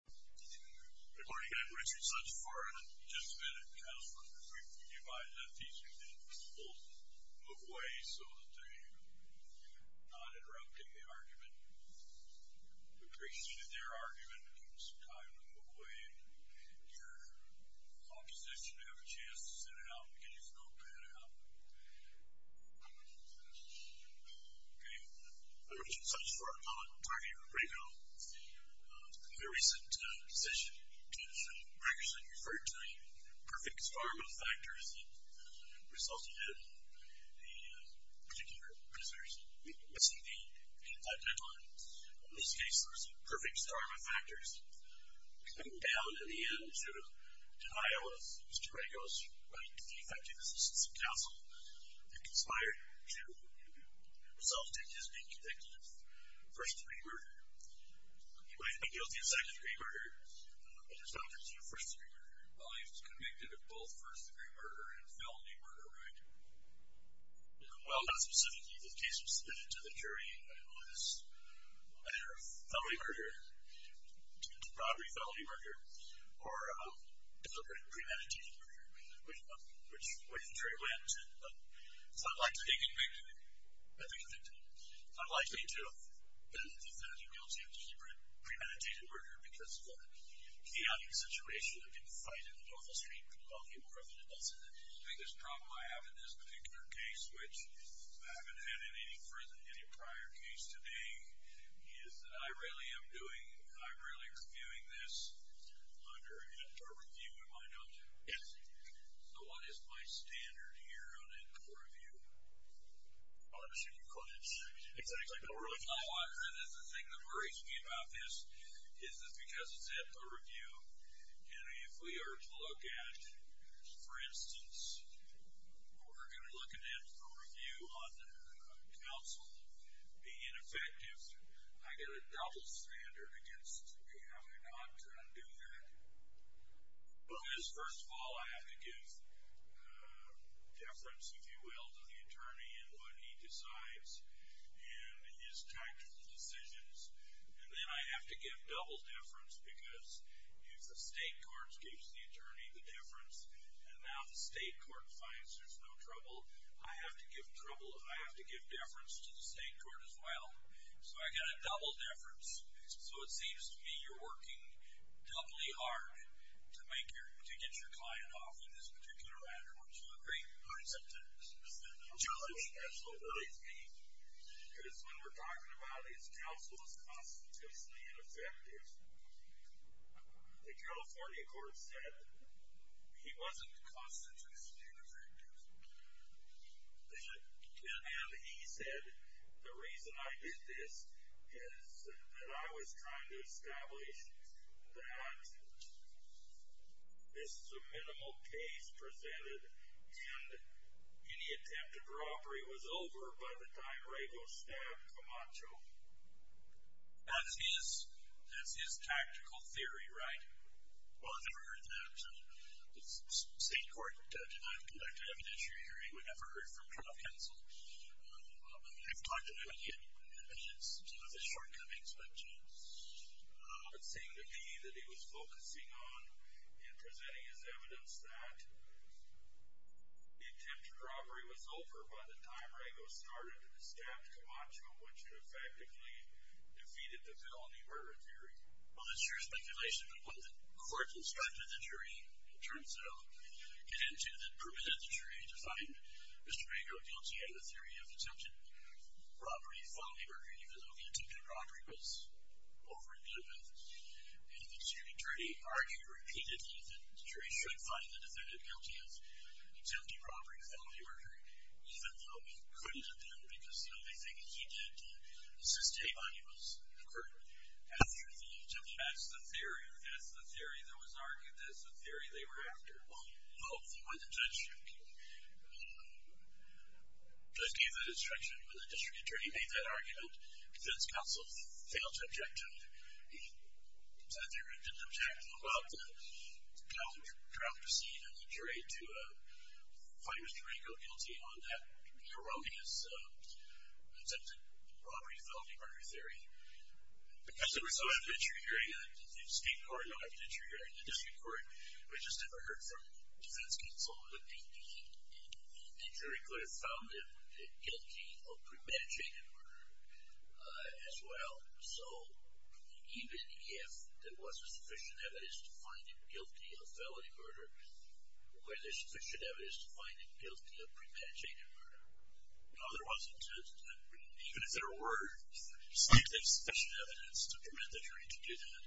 Good morning, I'm Richard Sutchford. I've just been in California for three weeks. I've been advised that these people need to move away so that they're not interrupting the argument. I appreciate that their argument took some time to move away and your opposition to have a chance to sit it out in case it goes bad out. Okay, I'm Richard Sutchford. I'll now talk to you about Rego. In a recent decision, Stu Sherman actually referred to a perfect storm of factors that resulted in the particular prisoners missing the indictment on him. In this case, there was a perfect storm of factors coming down in the end to a denial of Mr. Rego's right to be effective assistants of counsel. It conspired to result in his being convicted of first-degree murder. He might have been guilty of second-degree murder, but he was not convicted of first-degree murder. Well, he was convicted of both first-degree murder and felony murder, right? Well, not specifically. The case was submitted to the jury as either felony murder, robbery felony murder, or deliberate premeditated murder, which the jury wins. So I'm likely to think he may be convicted. I'm likely to think that he may be guilty of deliberate premeditated murder because of the chaotic situation that people fight in on the street. The biggest problem I have in this particular case, which I haven't had in any prior case today, is that I really am doing, I'm really reviewing this under an in-court review, am I not? Yes. So what is my standard here on in-court review? I don't understand your question. No, the thing that worries me about this is that because it's an in-court review, and if we are to look at, for instance, we're going to look at an in-court review on counsel being effective, I get a double standard against having to not do that. Because first of all, I have to give deference, if you will, to the attorney in what he decides and his type of decisions. And then I have to give double deference because if the state court gives the attorney the deference and now the state court finds there's no trouble, I have to give trouble, I have to give deference to the state court as well. So I get a double deference. So it seems to me you're working doubly hard to get your client off in this particular matter. Would you agree? Absolutely. Because when we're talking about his counsel was constitutionally ineffective, the California court said he wasn't constitutionally ineffective. And he said the reason I did this is that I was trying to establish that this is a minimal case presented and any attempt at robbery was over by the time Rago stabbed Camacho. That's his tactical theory, right? Well, I've never heard that. The state court did not conduct an evidentiary hearing. We never heard from Trump counsel. I've talked to him again in his shortcomings, which it seemed to me that he was focusing on in presenting his evidence that the attempt at robbery was over by the time Rago started to stab Camacho, which had effectively defeated the felony murder theory. Well, that's your speculation. But what the court instructed the jury in terms of get into that permitted the jury to find Mr. Rago guilty in the theory of attempted robbery, felony murder, even though the attempted robbery was over in Goodman. And the jury argued repeatedly that the jury should find the defendant guilty of attempted robbery, felony murder, even though he couldn't have done it because the only thing he did to sustain money was the court. That's the theory. That's the theory that was argued. That's the theory they were after. Well, hopefully when the judge gave that instruction, when the district attorney made that argument, defense counsel failed to object to it. They didn't object. Well, the counsel dropped the scene and the jury to find Mr. Rago guilty on that erroneous attempted robbery, felony murder theory. Because the result of interrogating the state court, not the district court, we just never heard from defense counsel that the jury could have found him guilty of premeditated murder as well. So even if there wasn't sufficient evidence to find him guilty of felony murder, was there sufficient evidence to find him guilty of premeditated murder? No, there wasn't. Even if there were scientific sufficient evidence to permit the jury to do that,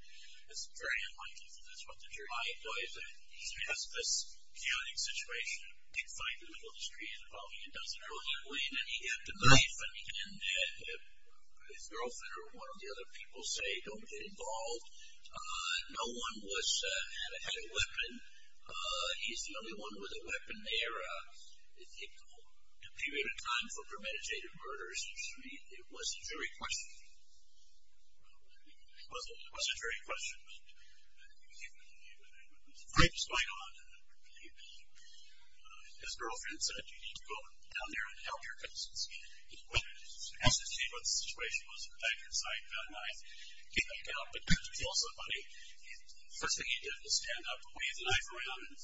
it's very unlikely that that's what the jury did. I believe that he has this chaotic situation. He finds the middle of the street involving a dozen girls. And he had the knife. And his girlfriend or one of the other people say, don't get involved. No one had a weapon. He's the only one with a weapon there. A period of time for premeditated murders. It was a jury question. It was a jury question. I just went on. His girlfriend said you need to go down there and help your cousins. Well, as to see what the situation was, I had a knife. I came back out because it was also funny. First thing he did was stand up, wave the knife around and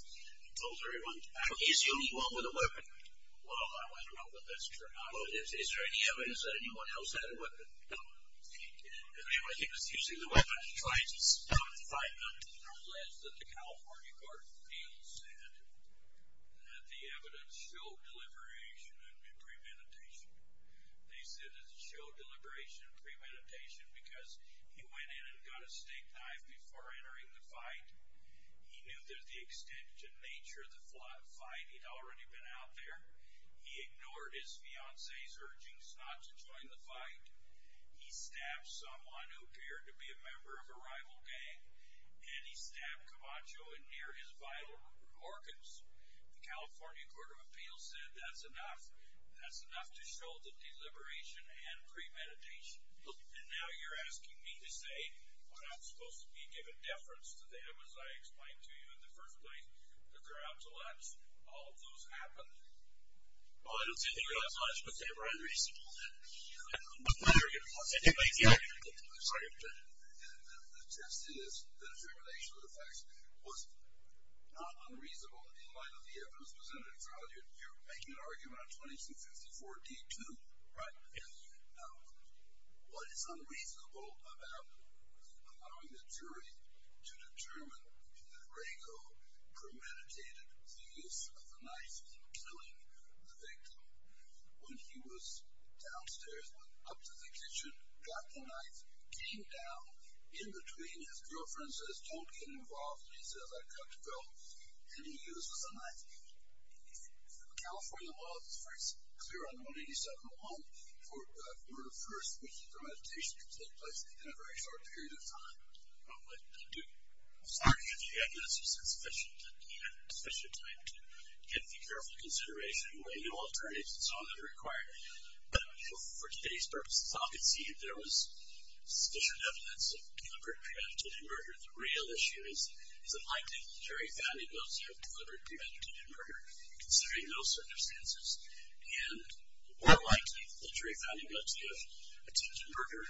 told everyone, is the only one with a weapon? Well, I went along with this. Is there any evidence that anyone else had a weapon? No. Anyway, he was using the weapon to try to stop the fight. The California Court of Appeals said that the evidence showed deliberation and premeditation. They said it showed deliberation and premeditation because he went in and got a steak knife before entering the fight. He knew that the extent to nature of the fight, he'd already been out there. He ignored his fiancee's urgings not to join the fight. He stabbed someone who appeared to be a member of a rival gang, and he stabbed Camacho in near his vital organs. The California Court of Appeals said that's enough. That's enough to show the deliberation and premeditation. And now you're asking me to say what I'm supposed to be giving deference to them, as I explained to you in the first place. Look around. All of those happened. Well, I don't see a thing about science, but they were unreasonable. What's my argument? What's anybody's argument? I'm sorry. The test is the determination of the facts was not unreasonable in light of the evidence presented in front of you. You're making an argument on 2254-D2, right? Now, what is unreasonable about allowing the jury to determine that Rago premeditated the use of the knife in killing the victim when he was downstairs, went up to the kitchen, got the knife, came down. In between, his girlfriend says, don't get involved. And he says, I cut the belt. And he uses the knife. The California law is first clear on 187.1 for murder first, which means the meditation can take place in a very short period of time. I'm sorry if the evidence was insufficient, but we have sufficient time to get the careful consideration. We have no alternatives. It's all that we require. But for today's purposes, I'll concede there was sufficient evidence of deliberate premeditated murder. The real issue is, is it likely that the jury found a guilty of deliberate premeditated murder, considering those circumstances? And more likely that the jury found a guilty of attempted murder,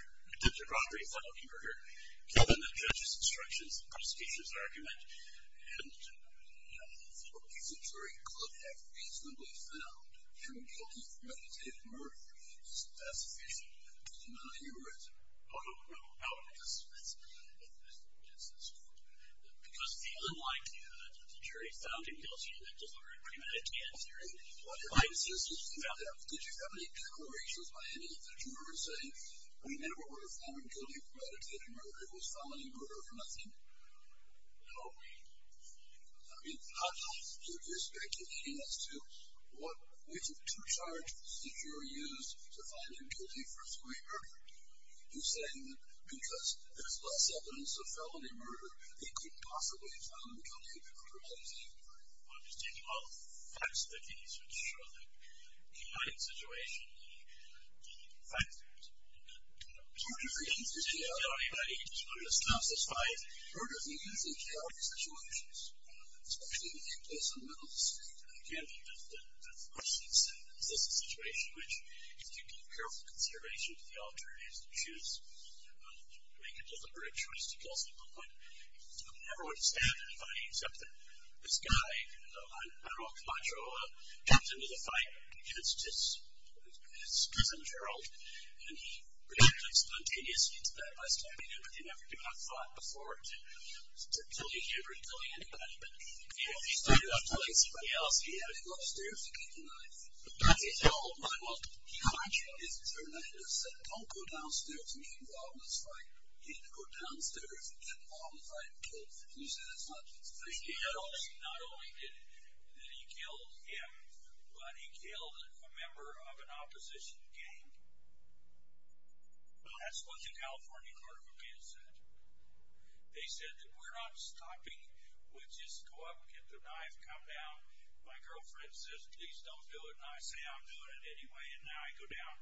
given the judge's instructions, the prosecutor's argument. And, you know, for a reason, jury could have reasonably found human guilty of premeditated murder. That's sufficient evidence. I'm not a heurist. I don't know how to dismiss that. I don't know how to dismiss this point. Because, unlike the jury found him guilty of deliberate premeditated murder, what if I insist that you found him? Did you have any legal reasons why any of the jurors say, we never would have found him guilty of premeditated murder. It was felony murder for nothing? No. I mean, how do you give your speculation as to what ways of charge the jury used to find him guilty for three murders? You're saying that because there's less evidence of felony murder, they couldn't possibly have found him guilty of premeditated murder. Well, I'm just taking all the facts that you need to ensure that, you know, in a combined situation, the facts that you need to know. Was murder free in sociology, but I just want to emphasize, murder free is in sociology situations, especially in the case of Willis. Again, the question is, is this a situation which you can give careful consideration to the alternatives and choose to make a deliberate choice to kill someone. I would never would have stabbed anybody except that this guy, Harold Macho, jumped into the fight against his cousin, Gerald, and he reacted spontaneously to that by stabbing him, but he never did have the thought before to kill you here or to kill anybody. He started off killing somebody else. He had to go upstairs to get the knife. That's his whole mind. Macho is a journalist. He said, don't go downstairs and get involved in this fight. He had to go downstairs and get involved in the fight and kill somebody. Not only did he kill him, but he killed a member of an opposition gang. That's what the California Court of Appeals said. They said that we're not stopping. We'll just go up and get the knife, come down. My girlfriend says, please don't do it. And I say, I'm doing it anyway. And now I go down.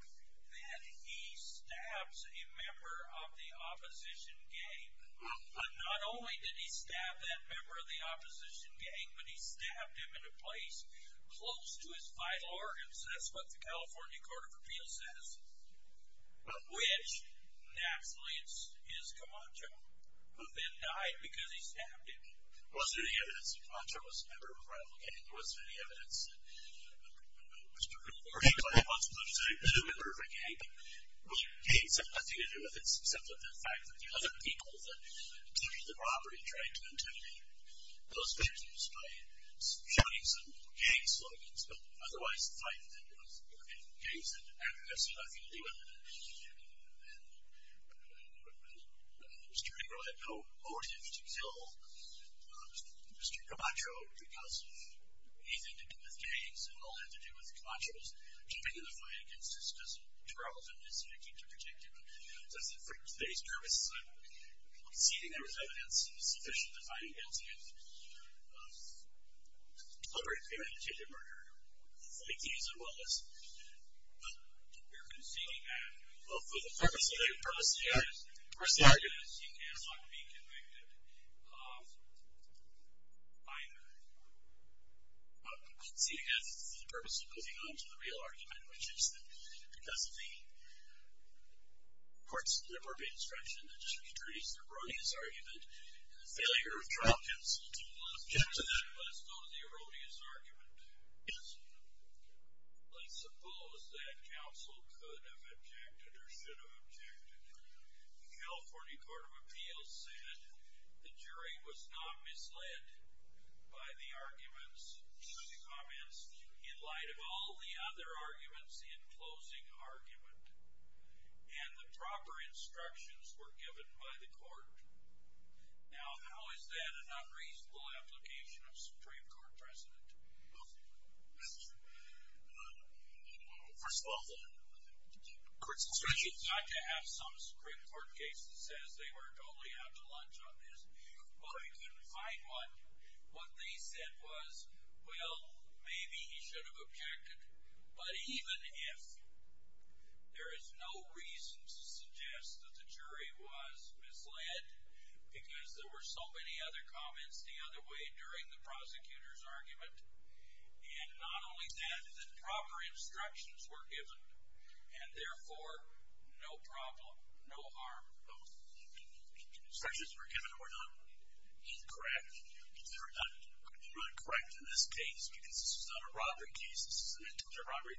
Then he stabs a member of the opposition gang, but not only did he stab that member of the opposition gang, but he stabbed him in a place close to his vital organs. That's what the California Court of Appeals says, which naturally is Camacho, who then died because he stabbed him. There wasn't any evidence that Camacho was a member of a rival gang. There wasn't any evidence that he was a member of a gang. Well, gangs have nothing to do with it, except for the fact that the other people that took the property tried to intimidate those victims by showing some gang slogans, but otherwise the fight was in gangs. It had absolutely nothing to do with it. Mr. Ringo had no motive to kill Mr. Camacho because anything to do with gangs, it all had to do with Camacho's joining the fight against his brother and his victim to protect him. It says that for today's purposes, I'm conceding there was evidence sufficient to find him guilty of deliberate and attempted murder. Thank you. As well as we're conceding that, well, for the purposes of the proceedings, the first argument is he cannot be convicted. I'm conceding that this is the purpose of moving on to the real argument, which is that because of the court's inappropriate instruction that just returns to the erroneous argument, and the failure of trial counsel to object to that, Yes. Let's suppose that counsel could have objected or should have objected. The California Court of Appeals said the jury was not misled by the arguments, the comments, in light of all the other arguments in closing argument, and the proper instructions were given by the court. Now, how is that an unreasonable application of Supreme Court precedent? Well, first of all, the court's instructions. Not to have some Supreme Court case that says they were totally out to lunch on this, but they couldn't find one. What they said was, well, maybe he should have objected, but even if there is no reason to suggest that the jury was misled because there were so many other comments the other way during the prosecutor's argument, and not only that, the proper instructions were given, and therefore, no problem, no harm, both. The instructions that were given were not incorrect. They were not correct in this case because this is not a robbery case. This is not a robbery.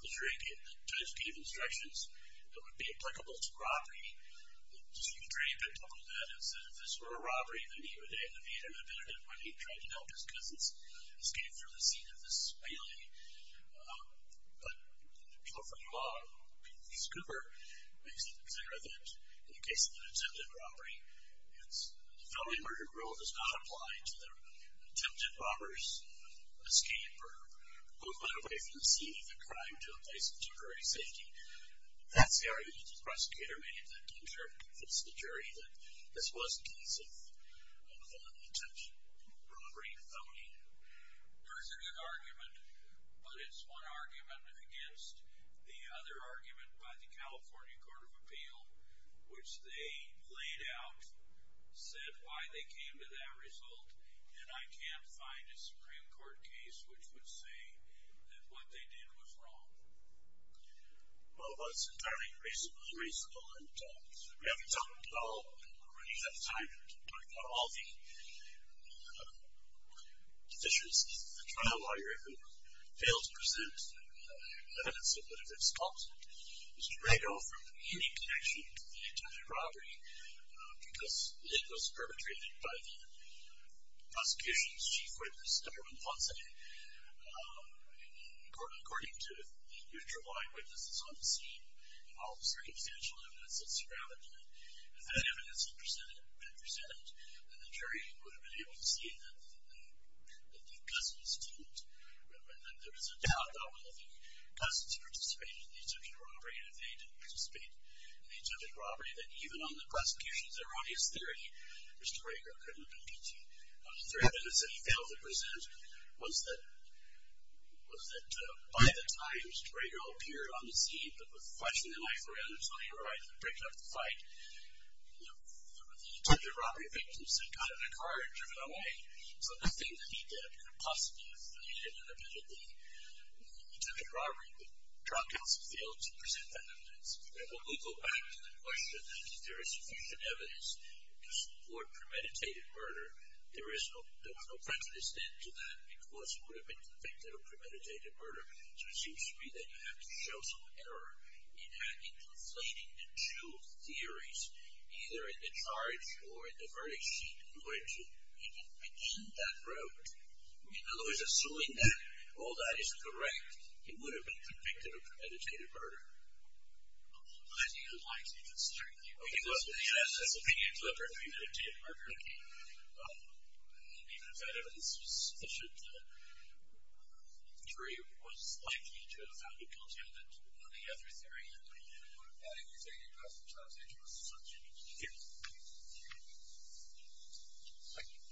The jury gave, the judge gave instructions that would be applicable to robbery. The Supreme Court jury did not do that. It said if this were a robbery, then he would have had an ability to try to help his cousins escape through the scene of this spilling. But in California law, Scooper makes it clear that in the case of an attempted robbery, the felony murder rule does not apply to the attempted robber's escape or movement away from the scene of the crime to a place of temporary safety. That's the argument the prosecutor made to convince the jury that this was in case of an attempted robbery felony. There's a good argument, but it's one argument against the other argument by the California Court of Appeal, which they laid out, said why they came to that result, and I can't find a Supreme Court case which would say that what they did was wrong. Well, it was entirely unreasonable and unreasonable, and we haven't talked at all, or at least at the time, we haven't talked about all the deficiencies. The trial lawyer who failed to present evidence of what if it's false was dragged off from any connection to the attempted robbery because it was perpetrated by the prosecution's chief witness, according to the neutral eyewitnesses on the scene and all the circumstantial evidence that surrounded it. If that evidence had been presented, then the jury would have been able to see that the cousins didn't. There was a doubt about whether the cousins participated in the attempted robbery, and if they didn't participate in the attempted robbery, then even on the prosecution's erroneous theory, Mr. Rager couldn't have been guilty. The evidence that he failed to present was that by the time Mr. Rager appeared on the scene, but was flashing the knife around until he arrived and breaking up the fight, there were the attempted robbery victims that got in a car and driven away, so nothing that he did could have possibly affiliated with the attempted robbery. The trial counsel failed to present that evidence. And when we go back to the question that if there is sufficient evidence to support premeditated murder, there was no precedent to that because he would have been convicted of premeditated murder. So it seems to me that you have to show some error in having conflating the two theories, either in the charge or in the verdict sheet, in order to begin that route. In other words, assuming that all that is correct, he would have been convicted of premeditated murder. I think it would lie to me to assert that he wasn't, in his opinion, to have premeditated murder. And even if that evidence was sufficient, the jury was likely to have found him guilty of it. On the other theory that we did, adding the fact that he was a child sexual assaulter. Thank you. Thank you. Good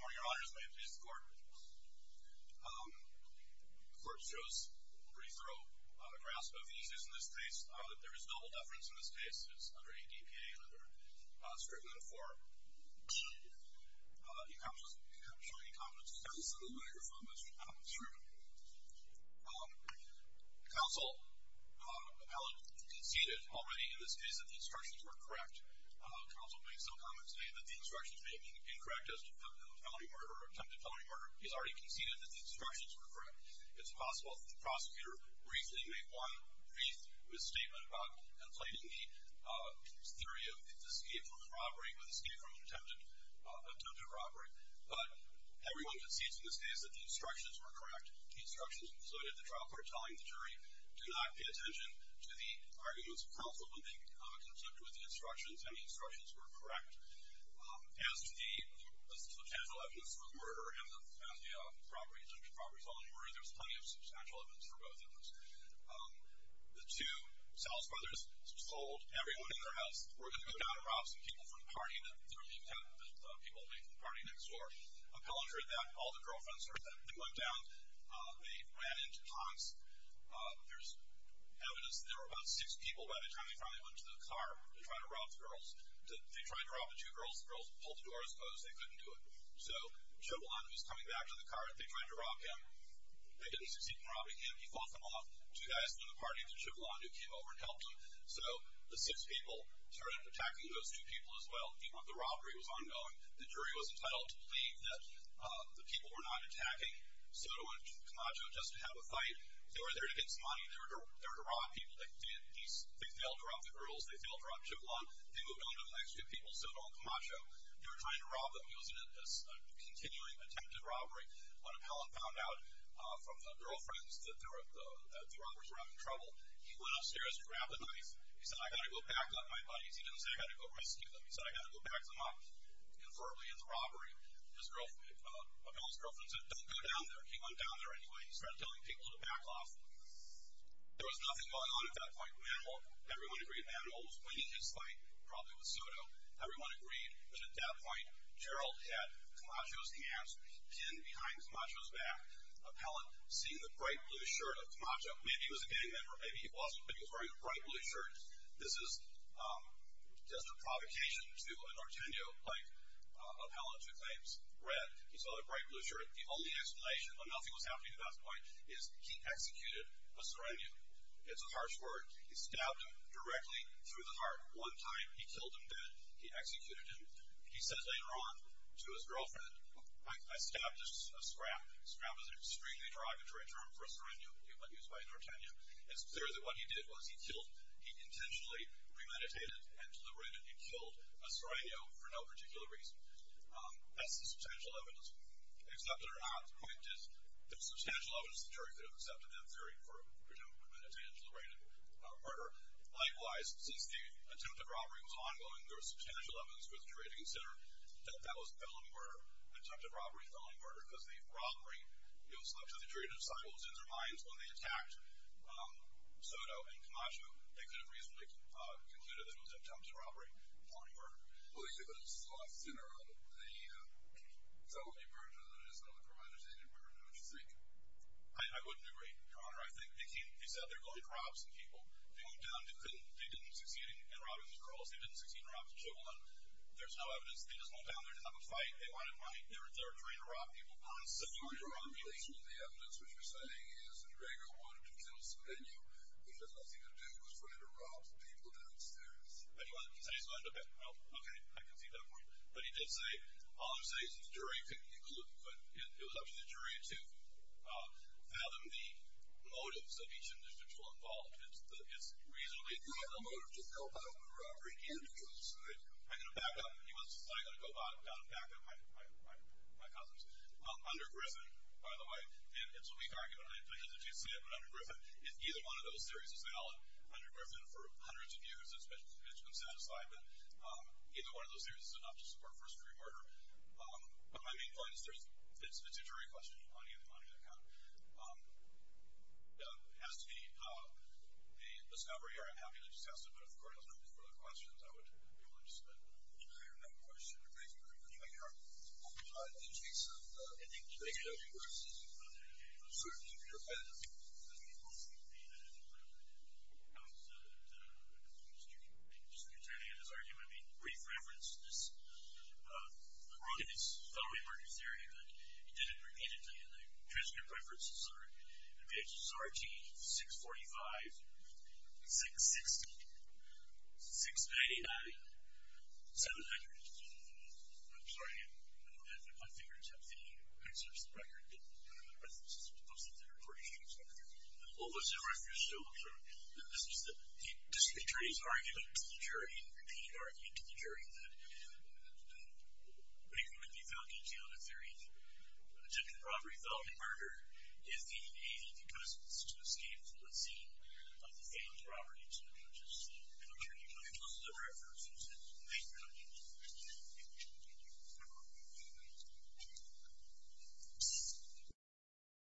morning, Your Honors. May it please the Court. The Court shows a pretty thorough grasp of the issues in this case. There is double deference in this case. It's under ADPA and under Scriven and Fore. You can't show any confidence, because this is a microphone that should come through. Counsel conceded already in this case that the instructions were correct. Counsel made some comments today that the instructions may be incorrect as to attempted felony murder. He's already conceded that the instructions were correct. It's possible that the prosecutor briefly made one brief misstatement about conflating the theory of escape from a robbery with escape from an attempted robbery. But everyone concedes in this case that the instructions were correct. The instructions included the trial court telling the jury, do not pay attention to the arguments of counsel when they conclude with the instructions, and the instructions were correct. As to the potential evidence for murder and the property, attempted property felony murder, there's plenty of substantial evidence for both of those. The two Sal's brothers sold everyone in their house, were going to be non-props, and people from the party that were being kept, the people that made the party next door, all the girlfriends heard that. They went down. They ran into tanks. There's evidence that there were about six people by the time they finally went to the car to try to rob the girls. They tried to rob the two girls. The girls pulled the doors closed. They couldn't do it. So Chablon, who was coming back to the car, they tried to rob him. They didn't succeed in robbing him. He fought them off. Two guys from the party, it was Chablon who came over and helped him. So the six people started attacking those two people as well. The robbery was ongoing. The jury was entitled to believe that the people were not attacking Soto and Camacho just to have a fight. They were there to get some money. They were to rob people. They failed to rob the girls. They failed to rob Chablon. They moved on to the next two people, Soto and Camacho. They were trying to rob them. It was a continuing attempted robbery. One appellant found out from the girlfriends that the robbers were having trouble. He went upstairs and grabbed a knife. He said, I got to go back on my buddies. He didn't say, I got to go rescue them. He said, I got to go back them up. Convertly in the robbery, appellant's girlfriend said, don't go down there. He went down there anyway. He started telling people to back off. There was nothing going on at that point. Manuel, everyone agreed Manuel was winning his fight, probably with Soto. Everyone agreed. But at that point, Gerald had Camacho's hands pinned behind Camacho's back. Appellant, seeing the bright blue shirt of Camacho, maybe he was a gang member, maybe he wasn't, but he was wearing a bright blue shirt. This is just a provocation to a Norteno, like appellant who claims red. He's wearing a bright blue shirt. The only explanation, but nothing was happening at that point, is he executed a serenio. It's a harsh word. He stabbed him directly through the heart. One time he killed him dead. He executed him. He says later on to his girlfriend, I stabbed a scrap. Scrap is an extremely derogatory term for a serenio. It was used by a Norteno. It's clear that what he did was he killed, he intentionally premeditated and deliberated, and killed a serenio for no particular reason. That's the substantial evidence. Accepted or not, the point is there's substantial evidence the jury could have accepted that theory for a premeditated, deliberated murder. Likewise, since the attempted robbery was ongoing, there was substantial evidence for the jury to consider that that was a felony murder, attempted robbery, felony murder, because the robbery was left to the jury to decide what was in their minds when they attacked Soto and Camacho. They could have reasonably concluded that it was an attempted robbery, felony murder. Well, you said that this is the last sinner of the felony murder, that it is the only premeditated murder. Now, what do you think? I wouldn't agree, Your Honor. I think they came, they said they're going to rob some people. They went down, they didn't succeed in robbing the girls. They didn't succeed in robbing the children. There's no evidence. They just went down there to have a fight. They wanted money. They're trying to rob people. Your Honor, in relation to the evidence, what you're saying is that Gregor wanted to kill Soteno, but he had nothing to do with trying to rob people downstairs. But he said he was going to... Okay, I can see that point. But he did say... All I'm saying is the jury could... It was up to the jury to fathom the motives of each individual involved. It's reasonably... I have a motive to help out with the robbery and to kill Soto. I'm going to back up. I'm going to go down and back up my cousins. Under Griffin, by the way, and it's a weak argument. I hesitate to say it, but under Griffin, if either one of those theories is valid, under Griffin, for hundreds of years, it's been satisfied that either one of those theories is enough to support first-degree murder. But my main point is it's a jury question. It's a money-to-money account. It has to be a discovery. I'm happy to discuss it, but if the Court has no further questions, I would be more interested. Any further questions? Thank you, Your Honor. Your Honor, in the case of ending the murder versus asserting the murder, I think it would be a valid argument. I was at a conference yesterday and just returning to this argument, I made brief reference to this. I wrote in this felony murder theory and I did it repeatedly, and the transcript references are in pages RT, 645, 660, 699, 700. I'm sorry. My fingers have the excerpts of the record and the references posted there for you. What was the reference to? This is the attorney's argument to the jury, repeated argument to the jury, that making the felony account of the theory of attempted robbery, felony murder, is the aim because it's to escape from the scene of the felon's robbery, which is an alternative. This is the reference. Thank you, Your Honor.